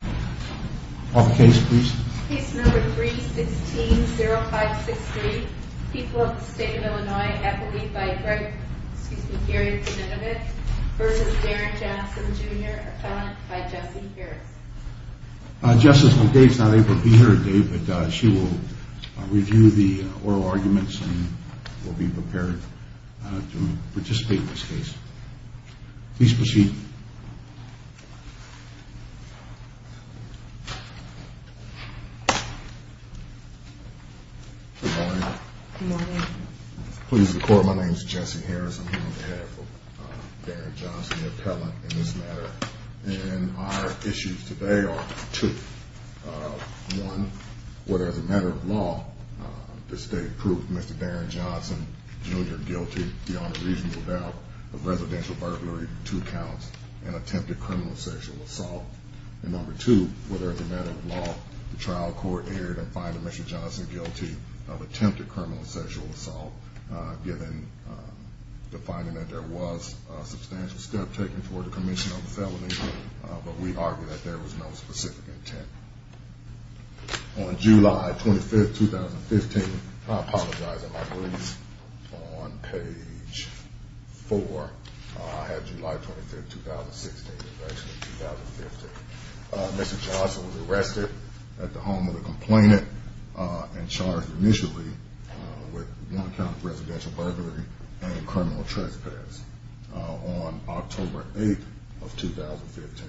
Case No. 316-0563, People of the State of Illinois, Eppley v. Gary Zinovec v. Darren Jackson Jr., Appellant by Jessie Harris Good morning. Good morning. Please report. My name is Jessie Harris. I'm here on behalf of Darren Johnson, the appellant in this matter. And our issues today are two. One, whether as a matter of law, the state proved Mr. Darren Johnson Jr. guilty beyond a reasonable doubt of residential burglary, two counts of attempted criminal sexual assault. And number two, whether as a matter of law, the trial court erred in finding Mr. Johnson guilty of attempted criminal sexual assault, given the finding that there was a substantial step taken toward the commission of the felony, but we argue that there was no specific intent. On July 25th, 2015, I apologize in my brief, on page 4, I have July 25th, 2016, and actually 2015, Mr. Johnson was arrested at the home of a complainant and charged initially with one count of residential burglary and criminal trespass. On October 8th of 2015,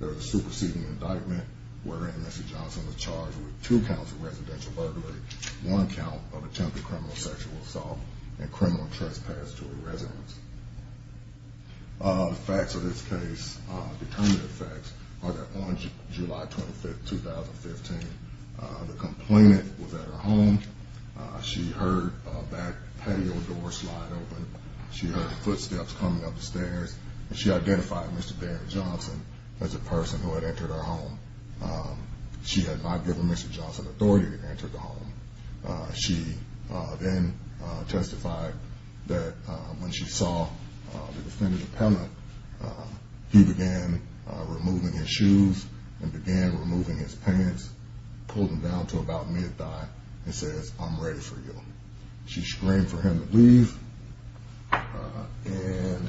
there was a superseding indictment wherein Mr. Johnson was charged with two counts of residential burglary, one count of attempted criminal sexual assault, and criminal trespass to a residence. The facts of this case, the current facts, are that on July 25th, 2015, the complainant was at her home. She heard a back patio door slide open. She heard footsteps coming up the stairs, and she identified Mr. Darren Johnson as the person who had entered her home. She had not given Mr. Johnson authority to enter the home. She then testified that when she saw the defendant appellant, he began removing his shoes and began removing his pants, pulled them down to about mid-thigh, and says, I'm ready for you. She screamed for him to leave, and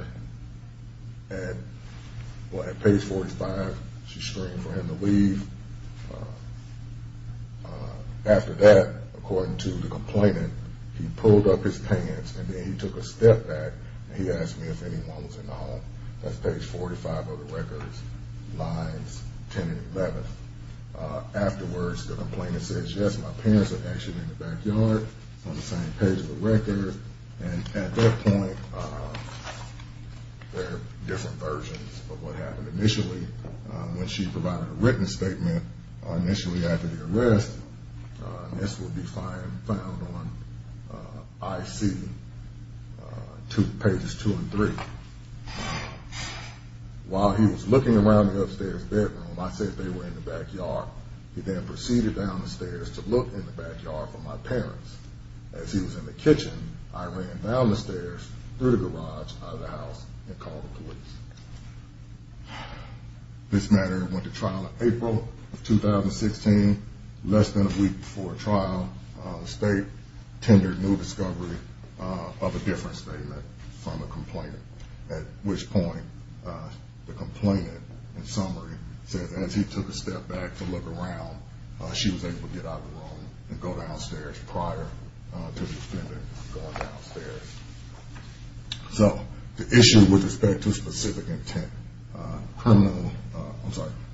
at page 45, she screamed for him to leave. After that, according to the complainant, he pulled up his pants, and then he took a step back, and he asked me if anyone was in the home. That's page 45 of the record, lines 10 and 11. Afterwards, the complainant says, yes, my parents are actually in the backyard, on the same page of the record, and at that point, there are different versions of what happened. Initially, when she provided a written statement, initially after the arrest, and this will be found on IC pages two and three, while he was looking around the upstairs bedroom, I said they were in the backyard. He then proceeded down the stairs to look in the backyard for my parents. As he was in the kitchen, I ran down the stairs through the garage out of the house and called the police. This matter went to trial in April of 2016, less than a week before trial. The state tendered new discovery of a different statement from a complainant, at which point the complainant, in summary, says as he took a step back to look around, she was able to get out of the room and go downstairs prior to the defendant going downstairs. So, the issue with respect to specific intent,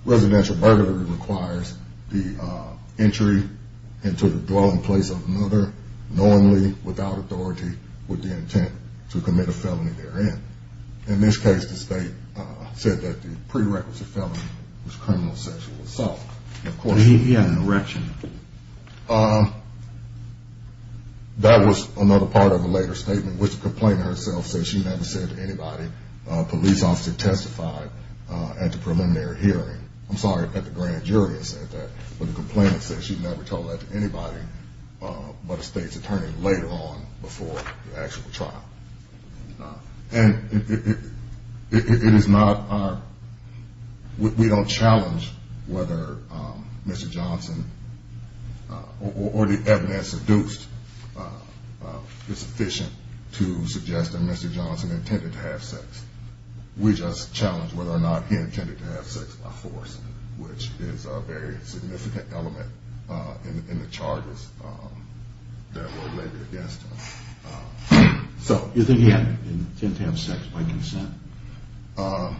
residential burglary requires the entry into the dwelling place of another knowingly, without authority, with the intent to commit a felony therein. In this case, the state said that the prerequisite felony was criminal sexual assault. That was another part of a later statement, which the complainant herself said she never said to anybody. A police officer testified at the preliminary hearing. I'm sorry, at the grand jury I said that, but the complainant said she never told that to anybody but a state's attorney later on before the actual trial. And it is not our, we don't challenge whether Mr. Johnson or the evidence seduced is sufficient to suggest that Mr. Johnson intended to have sex. We just challenge whether or not he intended to have sex by force, which is a very significant element in the charges that were laid against him. So, you think he had the intent to have sex by consent? Well,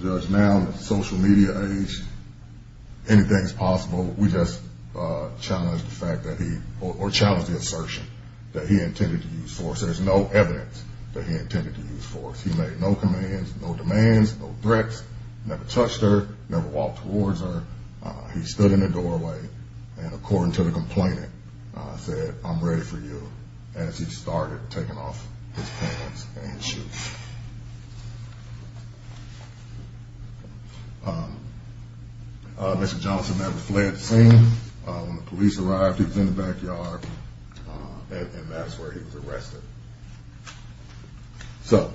Judge, now in the social media age, anything's possible. We just challenge the fact that he, or challenge the assertion that he intended to use force. There's no evidence that he intended to use force. He made no commands, no demands, no threats, never touched her, never walked towards her. He stood in the doorway, and according to the complainant, said, I'm ready for you, as he started taking off his pants and his shoes. Mr. Johnson never fled the scene. When the police arrived, he was in the backyard, and that's where he was arrested. So,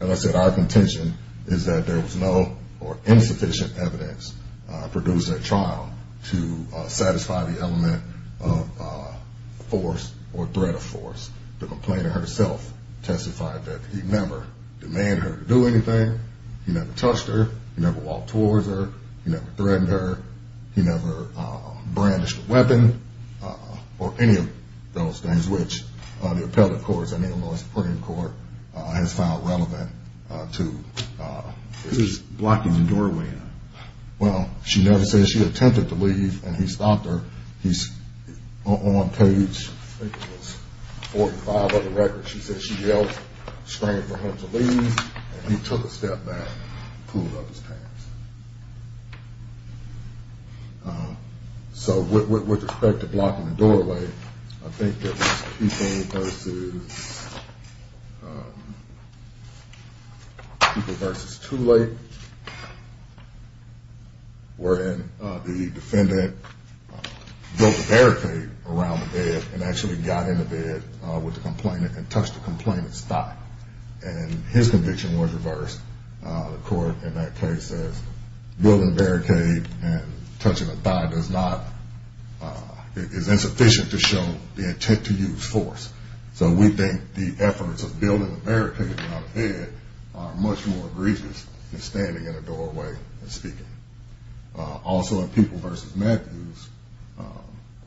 as I said, our contention is that there was no or insufficient evidence produced at trial to satisfy the element of force or threat of force. The complainant herself testified that he never demanded her to do anything, he never touched her, he never walked towards her, he never threatened her, he never brandished a weapon, or any of those things which the appellate courts and Illinois Supreme Court has found relevant to. Who's blocking the doorway? Well, she never said she attempted to leave, and he stopped her. He's on page, I think it was 45 of the record. She said she yelled, screamed for him to leave, and he took a step back, pulled up his pants. So, with respect to blocking the doorway, I think it was Keefe versus Tooley, wherein the defendant built a barricade around the bed, and actually got in the bed with the complainant, and touched the complainant's thigh. And his conviction was reversed. The court in that case says building a barricade and touching a thigh is insufficient to show the intent to use force. So we think the efforts of building a barricade around the bed are much more egregious than standing in a doorway and speaking. Also, in Peeble versus Matthews,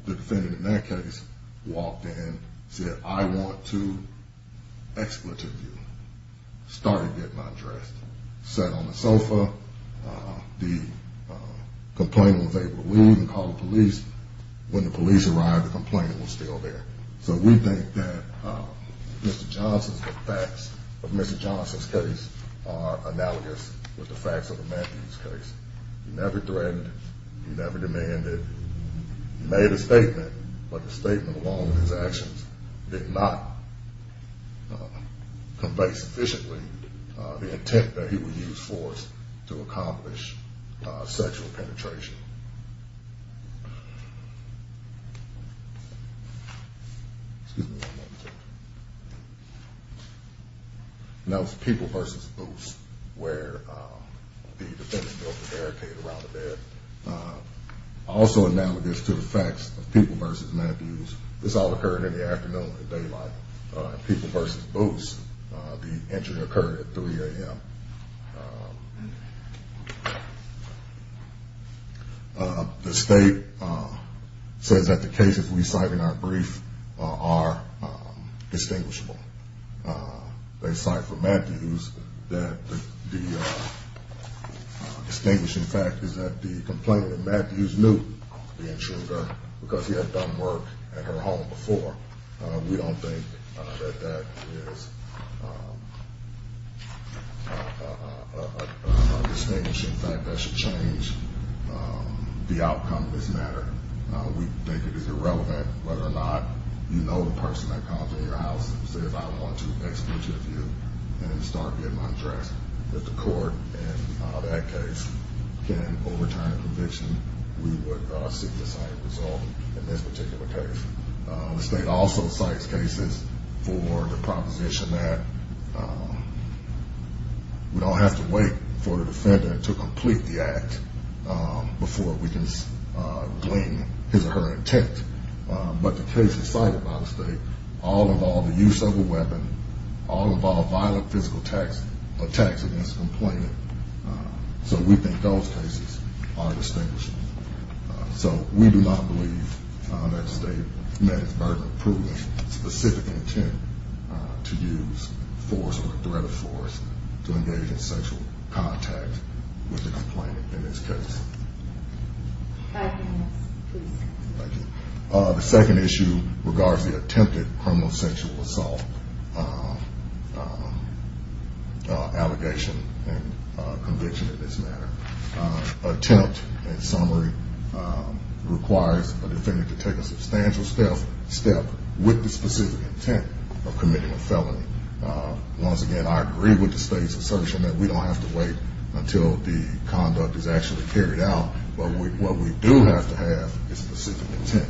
the defendant in that case walked in, said, I want to expletive you, started getting undressed, sat on the sofa. The complainant was able to leave and call the police. When the police arrived, the complainant was still there. So we think that Mr. Johnson's – the facts of Mr. Johnson's case are analogous with the facts of the Matthews case. He never threatened, he never demanded, he made a statement, but the statement along with his actions did not convey sufficiently the intent that he would use force to accomplish sexual penetration. Excuse me one moment. That was Peeble versus Boots, where the defendant built the barricade around the bed. Also analogous to the facts of Peeble versus Matthews, this all occurred in the afternoon in daylight. In Peeble versus Boots, the injury occurred at 3 a.m. The state says that the cases we cite in our brief are distinguishable. They cite for Matthews that the distinguishing fact is that the complainant, Matthews, knew the intruder because he had done work at her home before. We don't think that that is a distinguishing fact that should change the outcome of this matter. We think it is irrelevant whether or not you know the person that comes in your house and says, and start getting undressed. If the court in that case can overturn the conviction, we would seek the same result in this particular case. The state also cites cases for the proposition that we don't have to wait for the defendant to complete the act before we can glean his or her intent. But the cases cited by the state all involve the use of a weapon, all involve violent physical attacks against the complainant. So we think those cases are distinguishable. So we do not believe that the state met its burden of proving specific intent to use force or a threat of force to engage in sexual contact with the complainant in this case. Five minutes, please. Thank you. The second issue regards the attempted criminal sexual assault allegation and conviction in this matter. Attempt in summary requires a defendant to take a substantial step with the specific intent of committing a felony. Once again, I agree with the state's assertion that we don't have to wait until the conduct is actually carried out. But what we do have to have is specific intent.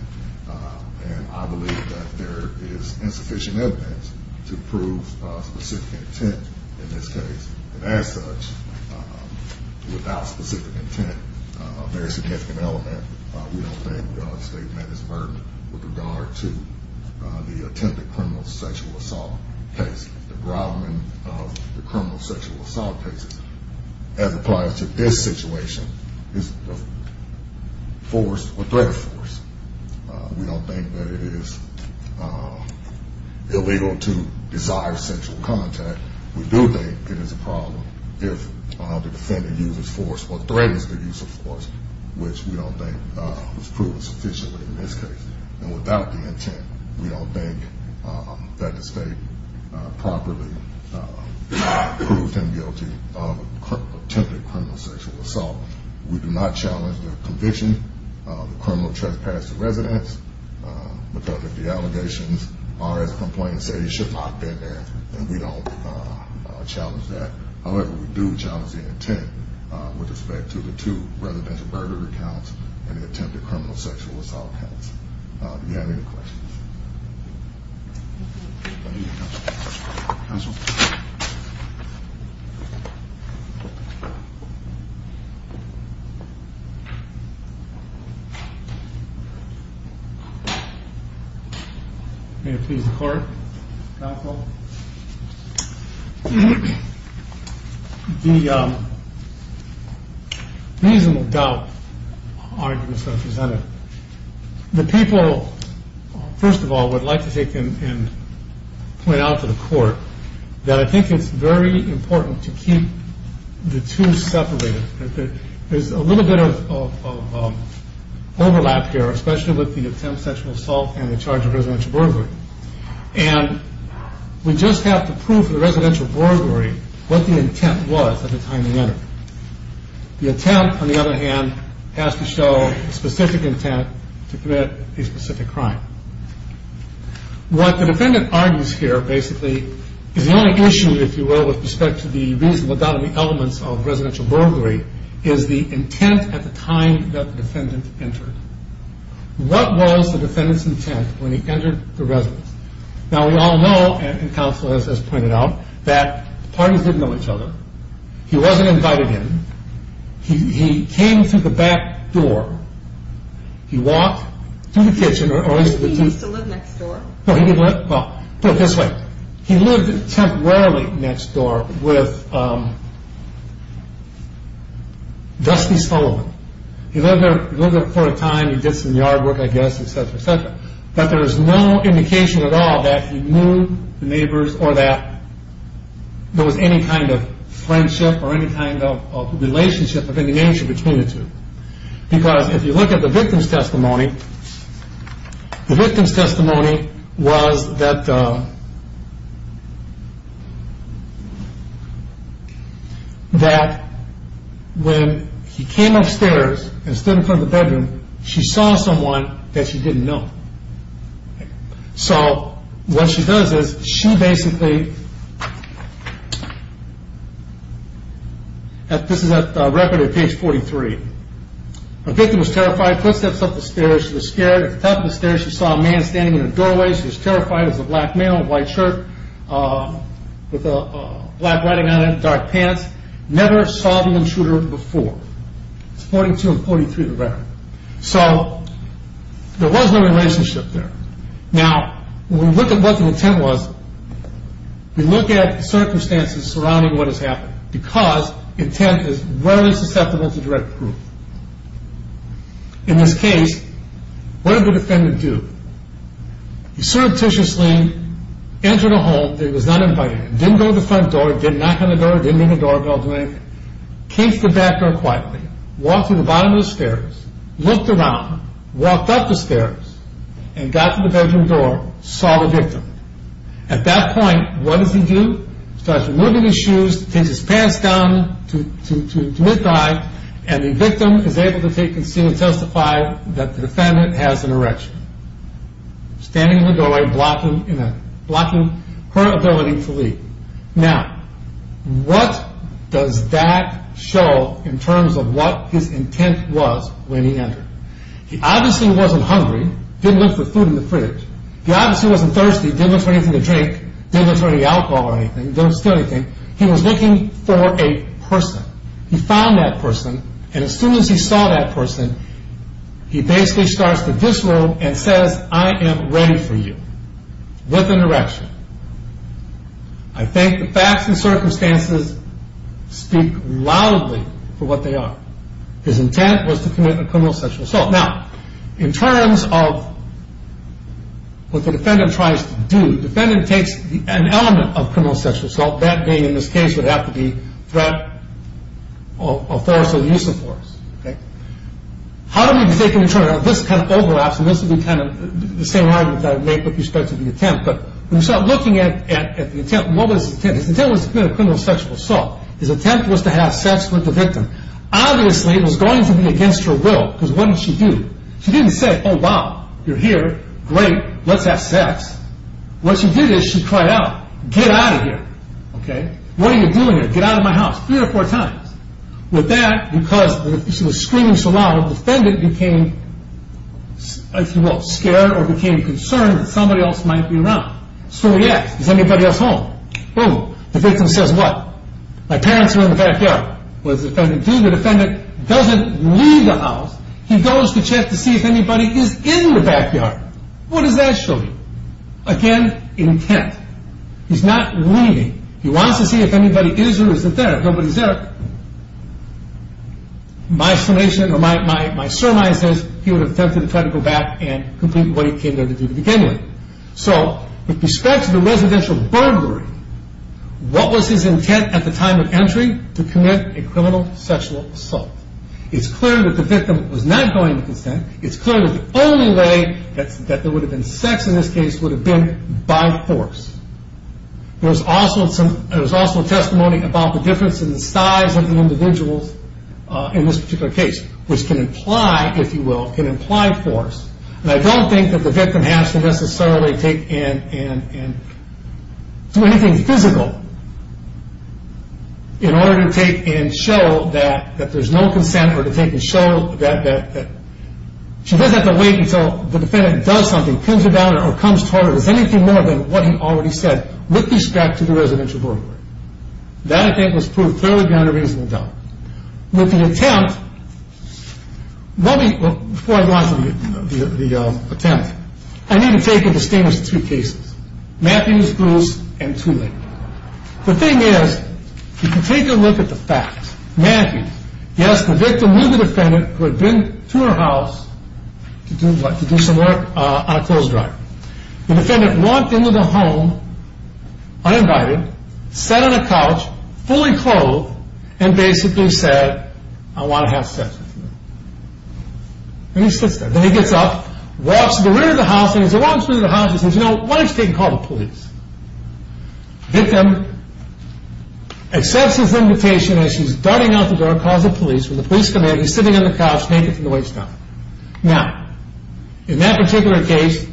And I believe that there is insufficient evidence to prove specific intent in this case. And as such, without specific intent, a very significant element, we don't think the state met its burden with regard to the attempted criminal sexual assault case. The groveling of the criminal sexual assault cases, as applies to this situation, is a force or threat of force. We don't think that it is illegal to desire sexual contact. We do think it is a problem if the defendant uses force or threatens the use of force, which we don't think was proven sufficiently in this case. And without the intent, we don't think that the state properly proved him guilty of attempted criminal sexual assault. We do not challenge the conviction of the criminal trespass to residents, because if the allegations are as the complaints say, he should not have been there. And we don't challenge that. However, we do challenge the intent with respect to the two residential murder accounts and the attempted criminal sexual assault counts. Do you have any questions? Counsel. May it please the court. Counsel. The reasonable doubt arguments that are presented. The people, first of all, would like to take and point out to the court that I think it's very important to keep the two separated. There's a little bit of overlap here, especially with the attempted sexual assault and the charge of residential murder. And we just have to prove to the residential burglary what the intent was at the time he entered. The intent, on the other hand, has to show specific intent to commit a specific crime. What the defendant argues here, basically, is the only issue, if you will, with respect to the reasonable doubt of the elements of residential burglary, is the intent at the time that the defendant entered. What was the defendant's intent when he entered the residence? Now, we all know, and Counsel has pointed out, that the parties didn't know each other. He wasn't invited in. He came through the back door. He walked through the kitchen. He used to live next door? Well, put it this way. He lived temporarily next door with Dusty Sullivan. He lived there for a time. He did some yard work, I guess, et cetera, et cetera. But there's no indication at all that he knew the neighbors or that there was any kind of friendship or any kind of relationship of any nature between the two. Because if you look at the victim's testimony, the victim's testimony was that when he came upstairs and stood in front of the bedroom, she saw someone that she didn't know. So, what she does is, she basically, this is at record at page 43. The victim was terrified. She took steps up the stairs. She was scared. At the top of the stairs, she saw a man standing in the doorway. She was terrified. It was a black male in a white shirt with black writing on it and dark pants. It's 42 and 43 of the record. So, there was no relationship there. Now, when we look at what the intent was, we look at circumstances surrounding what has happened, because intent is rarely susceptible to direct proof. In this case, what did the defendant do? He surreptitiously entered a home that he was not invited in, didn't go to the front door, didn't knock on the door, didn't ring the doorbell, didn't do anything, came to the back door quietly, walked to the bottom of the stairs, looked around, walked up the stairs, and got to the bedroom door, saw the victim. At that point, what does he do? He starts removing his shoes, takes his pants down to mid-thigh, and the victim is able to take a seat and testify that the defendant has an erection. Standing in the doorway, blocking her ability to leave. Now, what does that show in terms of what his intent was when he entered? He obviously wasn't hungry, didn't look for food in the fridge. He obviously wasn't thirsty, didn't look for anything to drink, didn't look for any alcohol or anything, didn't steal anything. He was looking for a person. He found that person, and as soon as he saw that person, he basically starts to visceral and says, I am ready for you, with an erection. I think the facts and circumstances speak loudly for what they are. His intent was to commit a criminal sexual assault. Now, in terms of what the defendant tries to do, the defendant takes an element of criminal sexual assault, that being in this case would have to be threat of force or use of force. How do we take into account, this kind of overlaps, and this would be kind of the same argument that I would make with respect to the attempt, but when you start looking at the intent, what was his intent? His intent was to commit a criminal sexual assault. His attempt was to have sex with the victim. Obviously, it was going to be against her will, because what did she do? She didn't say, oh, wow, you're here, great, let's have sex. What she did is she cried out, get out of here. What are you doing here? Get out of my house, three or four times. With that, because she was screaming so loud, the defendant became, if you will, scared or became concerned that somebody else might be around. So he asked, is anybody else home? Boom, the victim says what? My parents are in the backyard. What does the defendant do? The defendant doesn't leave the house. He goes to check to see if anybody is in the backyard. What does that show you? Again, intent. He's not leaving. He wants to see if anybody is or isn't there. If nobody is there, my surmise is he would have attempted to try to go back and complete what he came there to do to begin with. So with respect to the residential burglary, what was his intent at the time of entry? To commit a criminal sexual assault. It's clear that the victim was not going to consent. It's clear that the only way that there would have been sex in this case would have been by force. There was also testimony about the difference in the size of the individuals in this particular case, which can imply, if you will, can imply force. And I don't think that the victim has to necessarily take in and do anything physical in order to take and show that there's no consent or to take and show that. She doesn't have to wait until the defendant does something, or comes about or comes forward as anything more than what he already said, with respect to the residential burglary. That, I think, was proved fairly beyond a reasonable doubt. With the attempt, before I go on to the attempt, I need to take into statements two cases, Matthews, Bruce, and Tooley. The thing is, if you take a look at the facts, Matthews, yes, the victim knew the defendant who had been to her house to do what? On a closed drive. The defendant walked into the home, uninvited, sat on a couch, fully clothed, and basically said, I want to have sex with you. And he sits there. Then he gets up, walks to the rear of the house, and as he walks to the rear of the house, he says, you know, why don't you take and call the police? The victim accepts his invitation as she's darting out the door, calls the police. When the police come in, he's sitting on the couch, naked from the waist down. Now, in that particular case,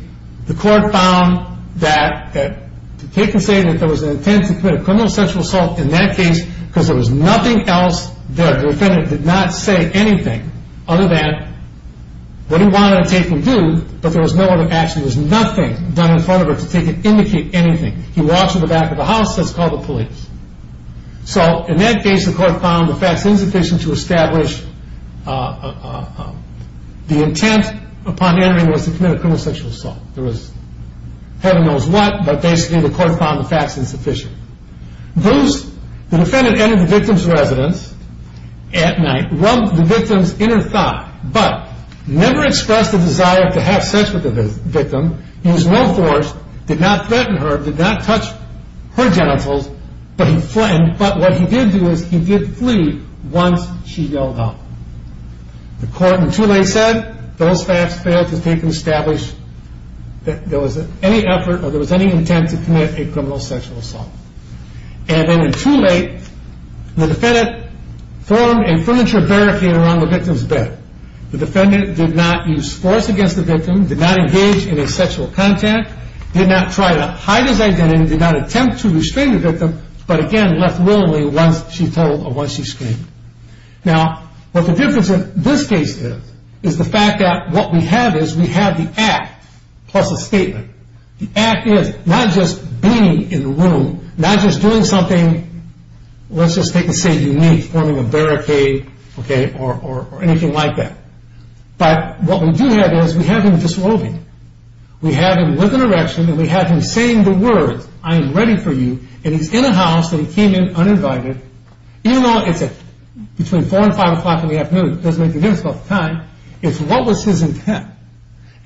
the court found that, they can say that there was an intent to commit a criminal sexual assault in that case because there was nothing else there. The defendant did not say anything other than what he wanted to take and do, but there was no other action. There was nothing done in front of her to take and indicate anything. He walks to the back of the house and says, call the police. So, in that case, the court found the facts insufficient to establish the intent upon entering was to commit a criminal sexual assault. There was heaven knows what, but basically the court found the facts insufficient. The defendant entered the victim's residence at night, rubbed the victim's inner thigh, but never expressed a desire to have sex with the victim, used no force, did not threaten her, did not touch her genitals, but what he did do is he did flee once she yelled out. The court, in too late, said those facts failed to establish that there was any effort or there was any intent to commit a criminal sexual assault. And then in too late, the defendant formed a furniture barricade around the victim's bed. The defendant did not use force against the victim, did not engage in a sexual contact, did not try to hide his identity, did not attempt to restrain the victim, but again, left willingly once she told or once she screamed. Now, what the difference in this case is, is the fact that what we have is we have the act plus a statement. The act is not just being in the room, not just doing something, let's just take and say unique, forming a barricade, okay, or anything like that. But what we do have is we have him disrobing. We have him with an erection and we have him saying the words, I am ready for you, and he's in a house and he came in uninvited. Even though it's between 4 and 5 o'clock in the afternoon, it doesn't make a difference about the time, it's what was his intent.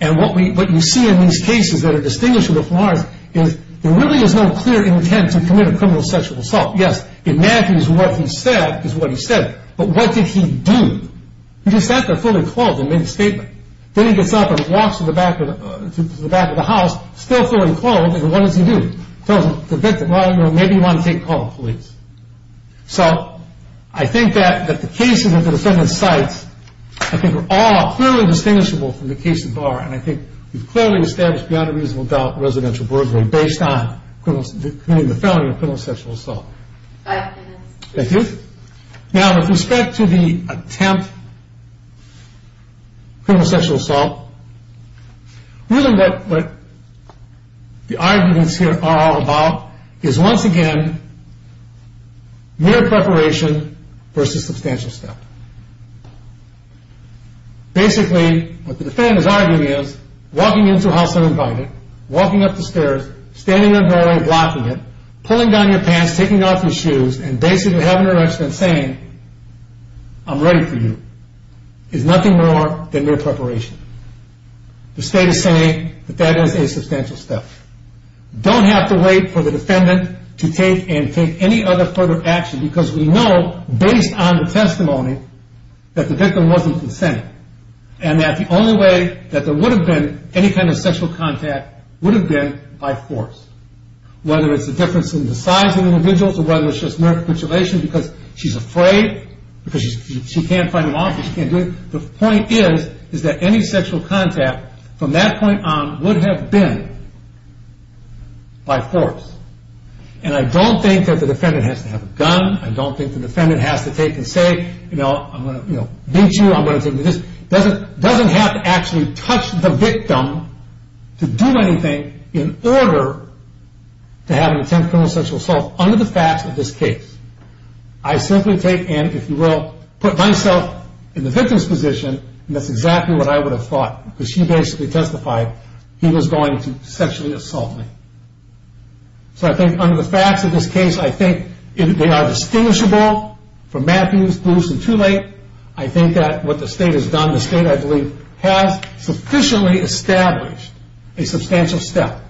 And what you see in these cases that are distinguishable from ours is there really is no clear intent to commit a criminal sexual assault. Yes, it matches what he said is what he said, but what did he do? He just sat there fully clothed and made a statement. Then he gets up and walks to the back of the house, still fully clothed, and what does he do? Tells the victim, well, you know, maybe you want to take a call with the police. So I think that the cases that the defendant cites, I think, are all clearly distinguishable from the cases of ours, and I think we've clearly established without a reasonable doubt residential burglary based on committing the felony of criminal sexual assault. Thank you. Now, with respect to the attempt, criminal sexual assault, really what the arguments here are all about is, once again, mere preparation versus substantial step. Basically, what the defendant is arguing is, walking into a house uninvited, walking up the stairs, standing in the doorway, blocking it, pulling down your pants, taking off your shoes, and basically having an arrest and saying, I'm ready for you, is nothing more than mere preparation. The state is saying that that is a substantial step. Don't have to wait for the defendant to take any other further action because we know, based on the testimony, that the victim wasn't consenting and that the only way that there would have been any kind of sexual contact would have been by force, whether it's a difference in the size of the individual or whether it's just mere capitulation because she's afraid, because she can't fight him off, she can't do it. The point is, is that any sexual contact from that point on would have been by force. And I don't think that the defendant has to have a gun. I don't think the defendant has to take and say, you know, I'm going to beat you, I'm going to take this. Doesn't have to actually touch the victim to do anything in order to have an attempt at criminal sexual assault under the facts of this case. I simply take and, if you will, put myself in the victim's position, and that's exactly what I would have thought because she basically testified he was going to sexually assault me. So I think under the facts of this case, I think they are distinguishable from Matthews, Bruce, and Tooley. I think that what the state has done, the state, I believe, has sufficiently established a substantial step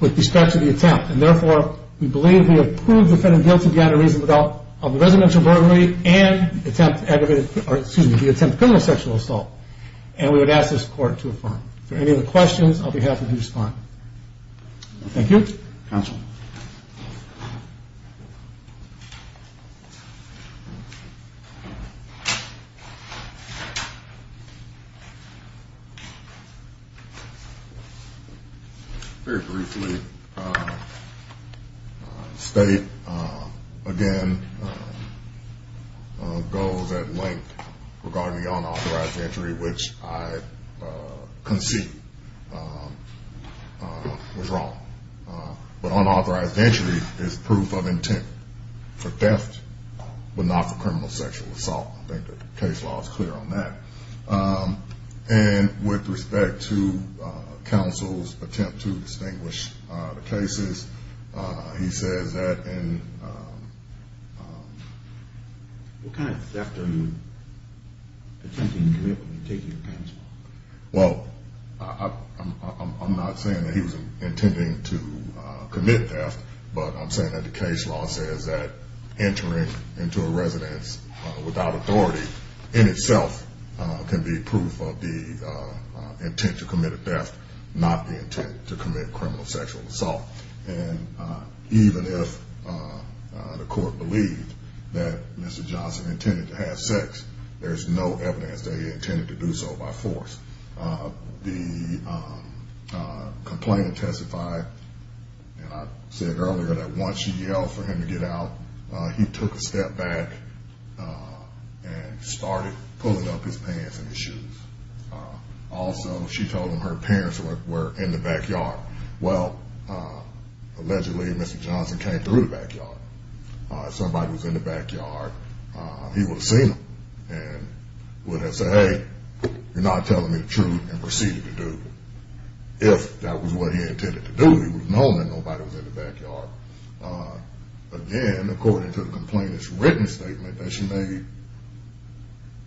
with respect to the attempt. And therefore, we believe we have proved the defendant guilty beyond a reasonable doubt of the residential burglary and the attempt at criminal sexual assault. And we would ask this court to affirm. If there are any other questions, I'll be happy to respond. Thank you. Counsel? Very briefly, the state, again, goes at length regarding the unauthorized entry, which I concede was wrong. But unauthorized entry is proof of intent for theft but not for criminal sexual assault. I think the case law is clear on that. And with respect to counsel's attempt to distinguish the cases, he says that in... What kind of theft are you attempting to commit when you're taking your counsel? Well, I'm not saying that he was intending to commit theft, but I'm saying that the case law says that entering into a residence without authority in itself can be proof of the intent to commit a theft, not the intent to commit criminal sexual assault. And even if the court believed that Mr. Johnson intended to have sex, there's no evidence that he intended to do so by force. The complainant testified, and I said earlier, that once she yelled for him to get out, he took a step back and started pulling up his pants and his shoes. Also, she told him her parents were in the backyard. Well, allegedly Mr. Johnson came through the backyard. If somebody was in the backyard, he would have seen them and would have said, hey, you're not telling me the truth, and proceeded to do it. If that was what he intended to do, he would have known that nobody was in the backyard. Again, according to the complainant's written statement that she made,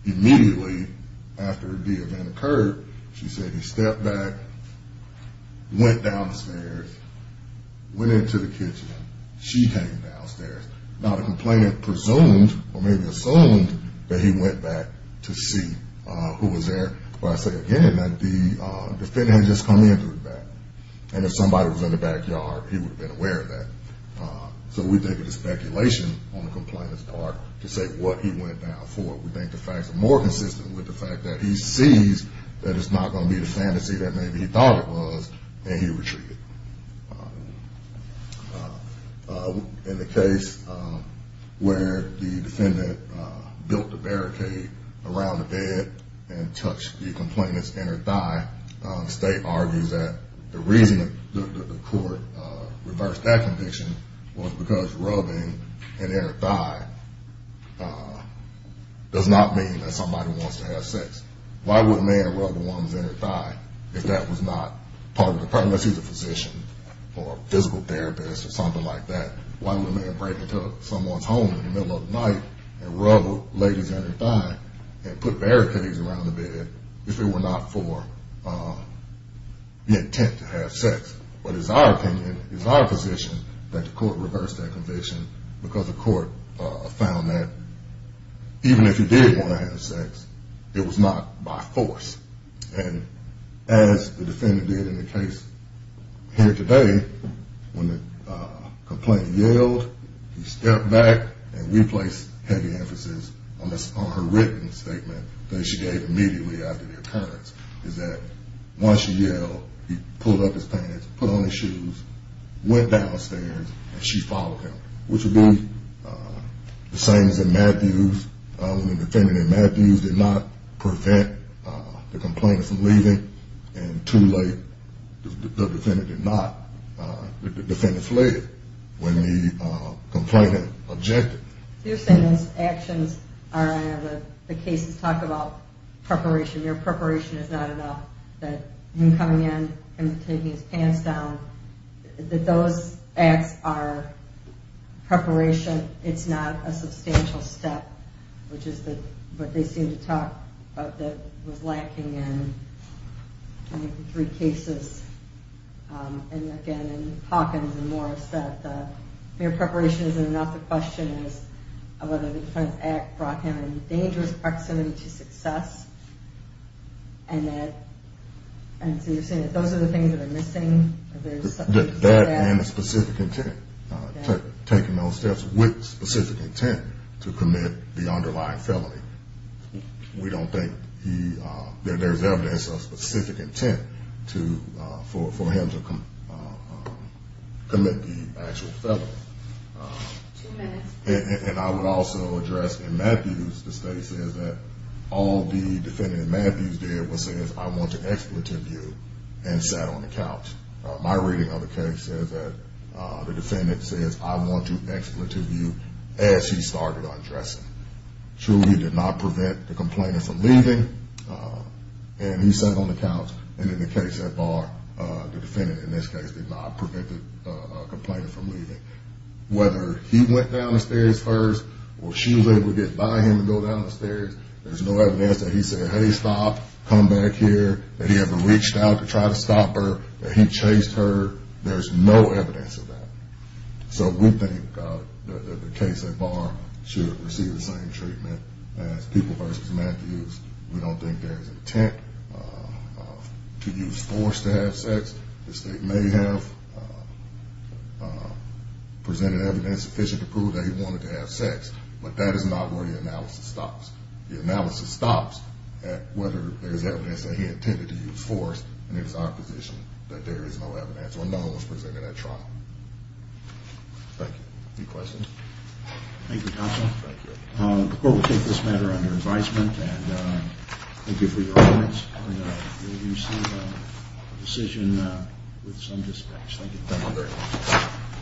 immediately after the event occurred, she said he stepped back, went downstairs, went into the kitchen. She came downstairs. Now, the complainant presumed or maybe assumed that he went back to see who was there. But I say again that the defendant had just come in through the back, and if somebody was in the backyard, he would have been aware of that. So we take it as speculation on the complainant's part to say what he went down for. We think the facts are more consistent with the fact that he sees that it's not going to be the fantasy that maybe he thought it was, and he retreated. In the case where the defendant built a barricade around the bed and touched the complainant's inner thigh, the state argues that the reason that the court reversed that conviction was because rubbing an inner thigh does not mean that somebody wants to have sex. Why would a man rub a woman's inner thigh if that was not part of the purpose? Unless he's a physician or a physical therapist or something like that, why would a man break into someone's home in the middle of the night and rub a lady's inner thigh and put barricades around the bed if it were not for the intent to have sex? But it's our opinion, it's our position that the court reversed that conviction because the court found that even if you did want to have sex, it was not by force. And as the defendant did in the case here today, when the complainant yelled, he stepped back, and we place heavy emphasis on her written statement that she gave immediately after the occurrence, is that once he yelled, he pulled up his pants, put on his shoes, went downstairs, and she followed him, which would be the same as in Matthews when the defendant in Matthews did not prevent the complainant from leaving, and too late, the defendant fled when the complainant objected. You're saying those actions are in the cases that talk about preparation. Your preparation is not enough. Him coming in, him taking his pants down, that those acts are preparation. It's not a substantial step, which is what they seem to talk about that was lacking in the three cases. And again, Hawkins and Morris said that their preparation isn't enough. The question is whether the Defense Act brought him in a dangerous proximity to success. And so you're saying that those are the things that are missing? That and the specific intent, taking those steps with specific intent to commit the underlying felony. We don't think there's evidence of specific intent for him to commit the actual felony. And I would also address in Matthews, the state says that all the defendant in Matthews did was say, I want to expletive you, and sat on the couch. My reading of the case says that the defendant says, I want to expletive you, as he started undressing. Truly, he did not prevent the complainant from leaving, and he sat on the couch. And in the case that bar, the defendant in this case did not prevent the complainant from leaving. Whether he went down the stairs first or she was able to get by him and go down the stairs, there's no evidence that he said, hey, stop, come back here, that he ever reached out to try to stop her, that he chased her. There's no evidence of that. So we think that the case at bar should receive the same treatment as people versus Matthews. We don't think there's intent to use force to have sex. The state may have presented evidence sufficient to prove that he wanted to have sex, but that is not where the analysis stops. The analysis stops at whether there's evidence that he intended to use force, and it is our position that there is no evidence or no one was presented at trial. Thank you. Any questions? Thank you, counsel. Thank you. The court will take this matter under advisement, and thank you for your arguments. And we'll receive a decision with some discretion. Thank you. Thank you very much.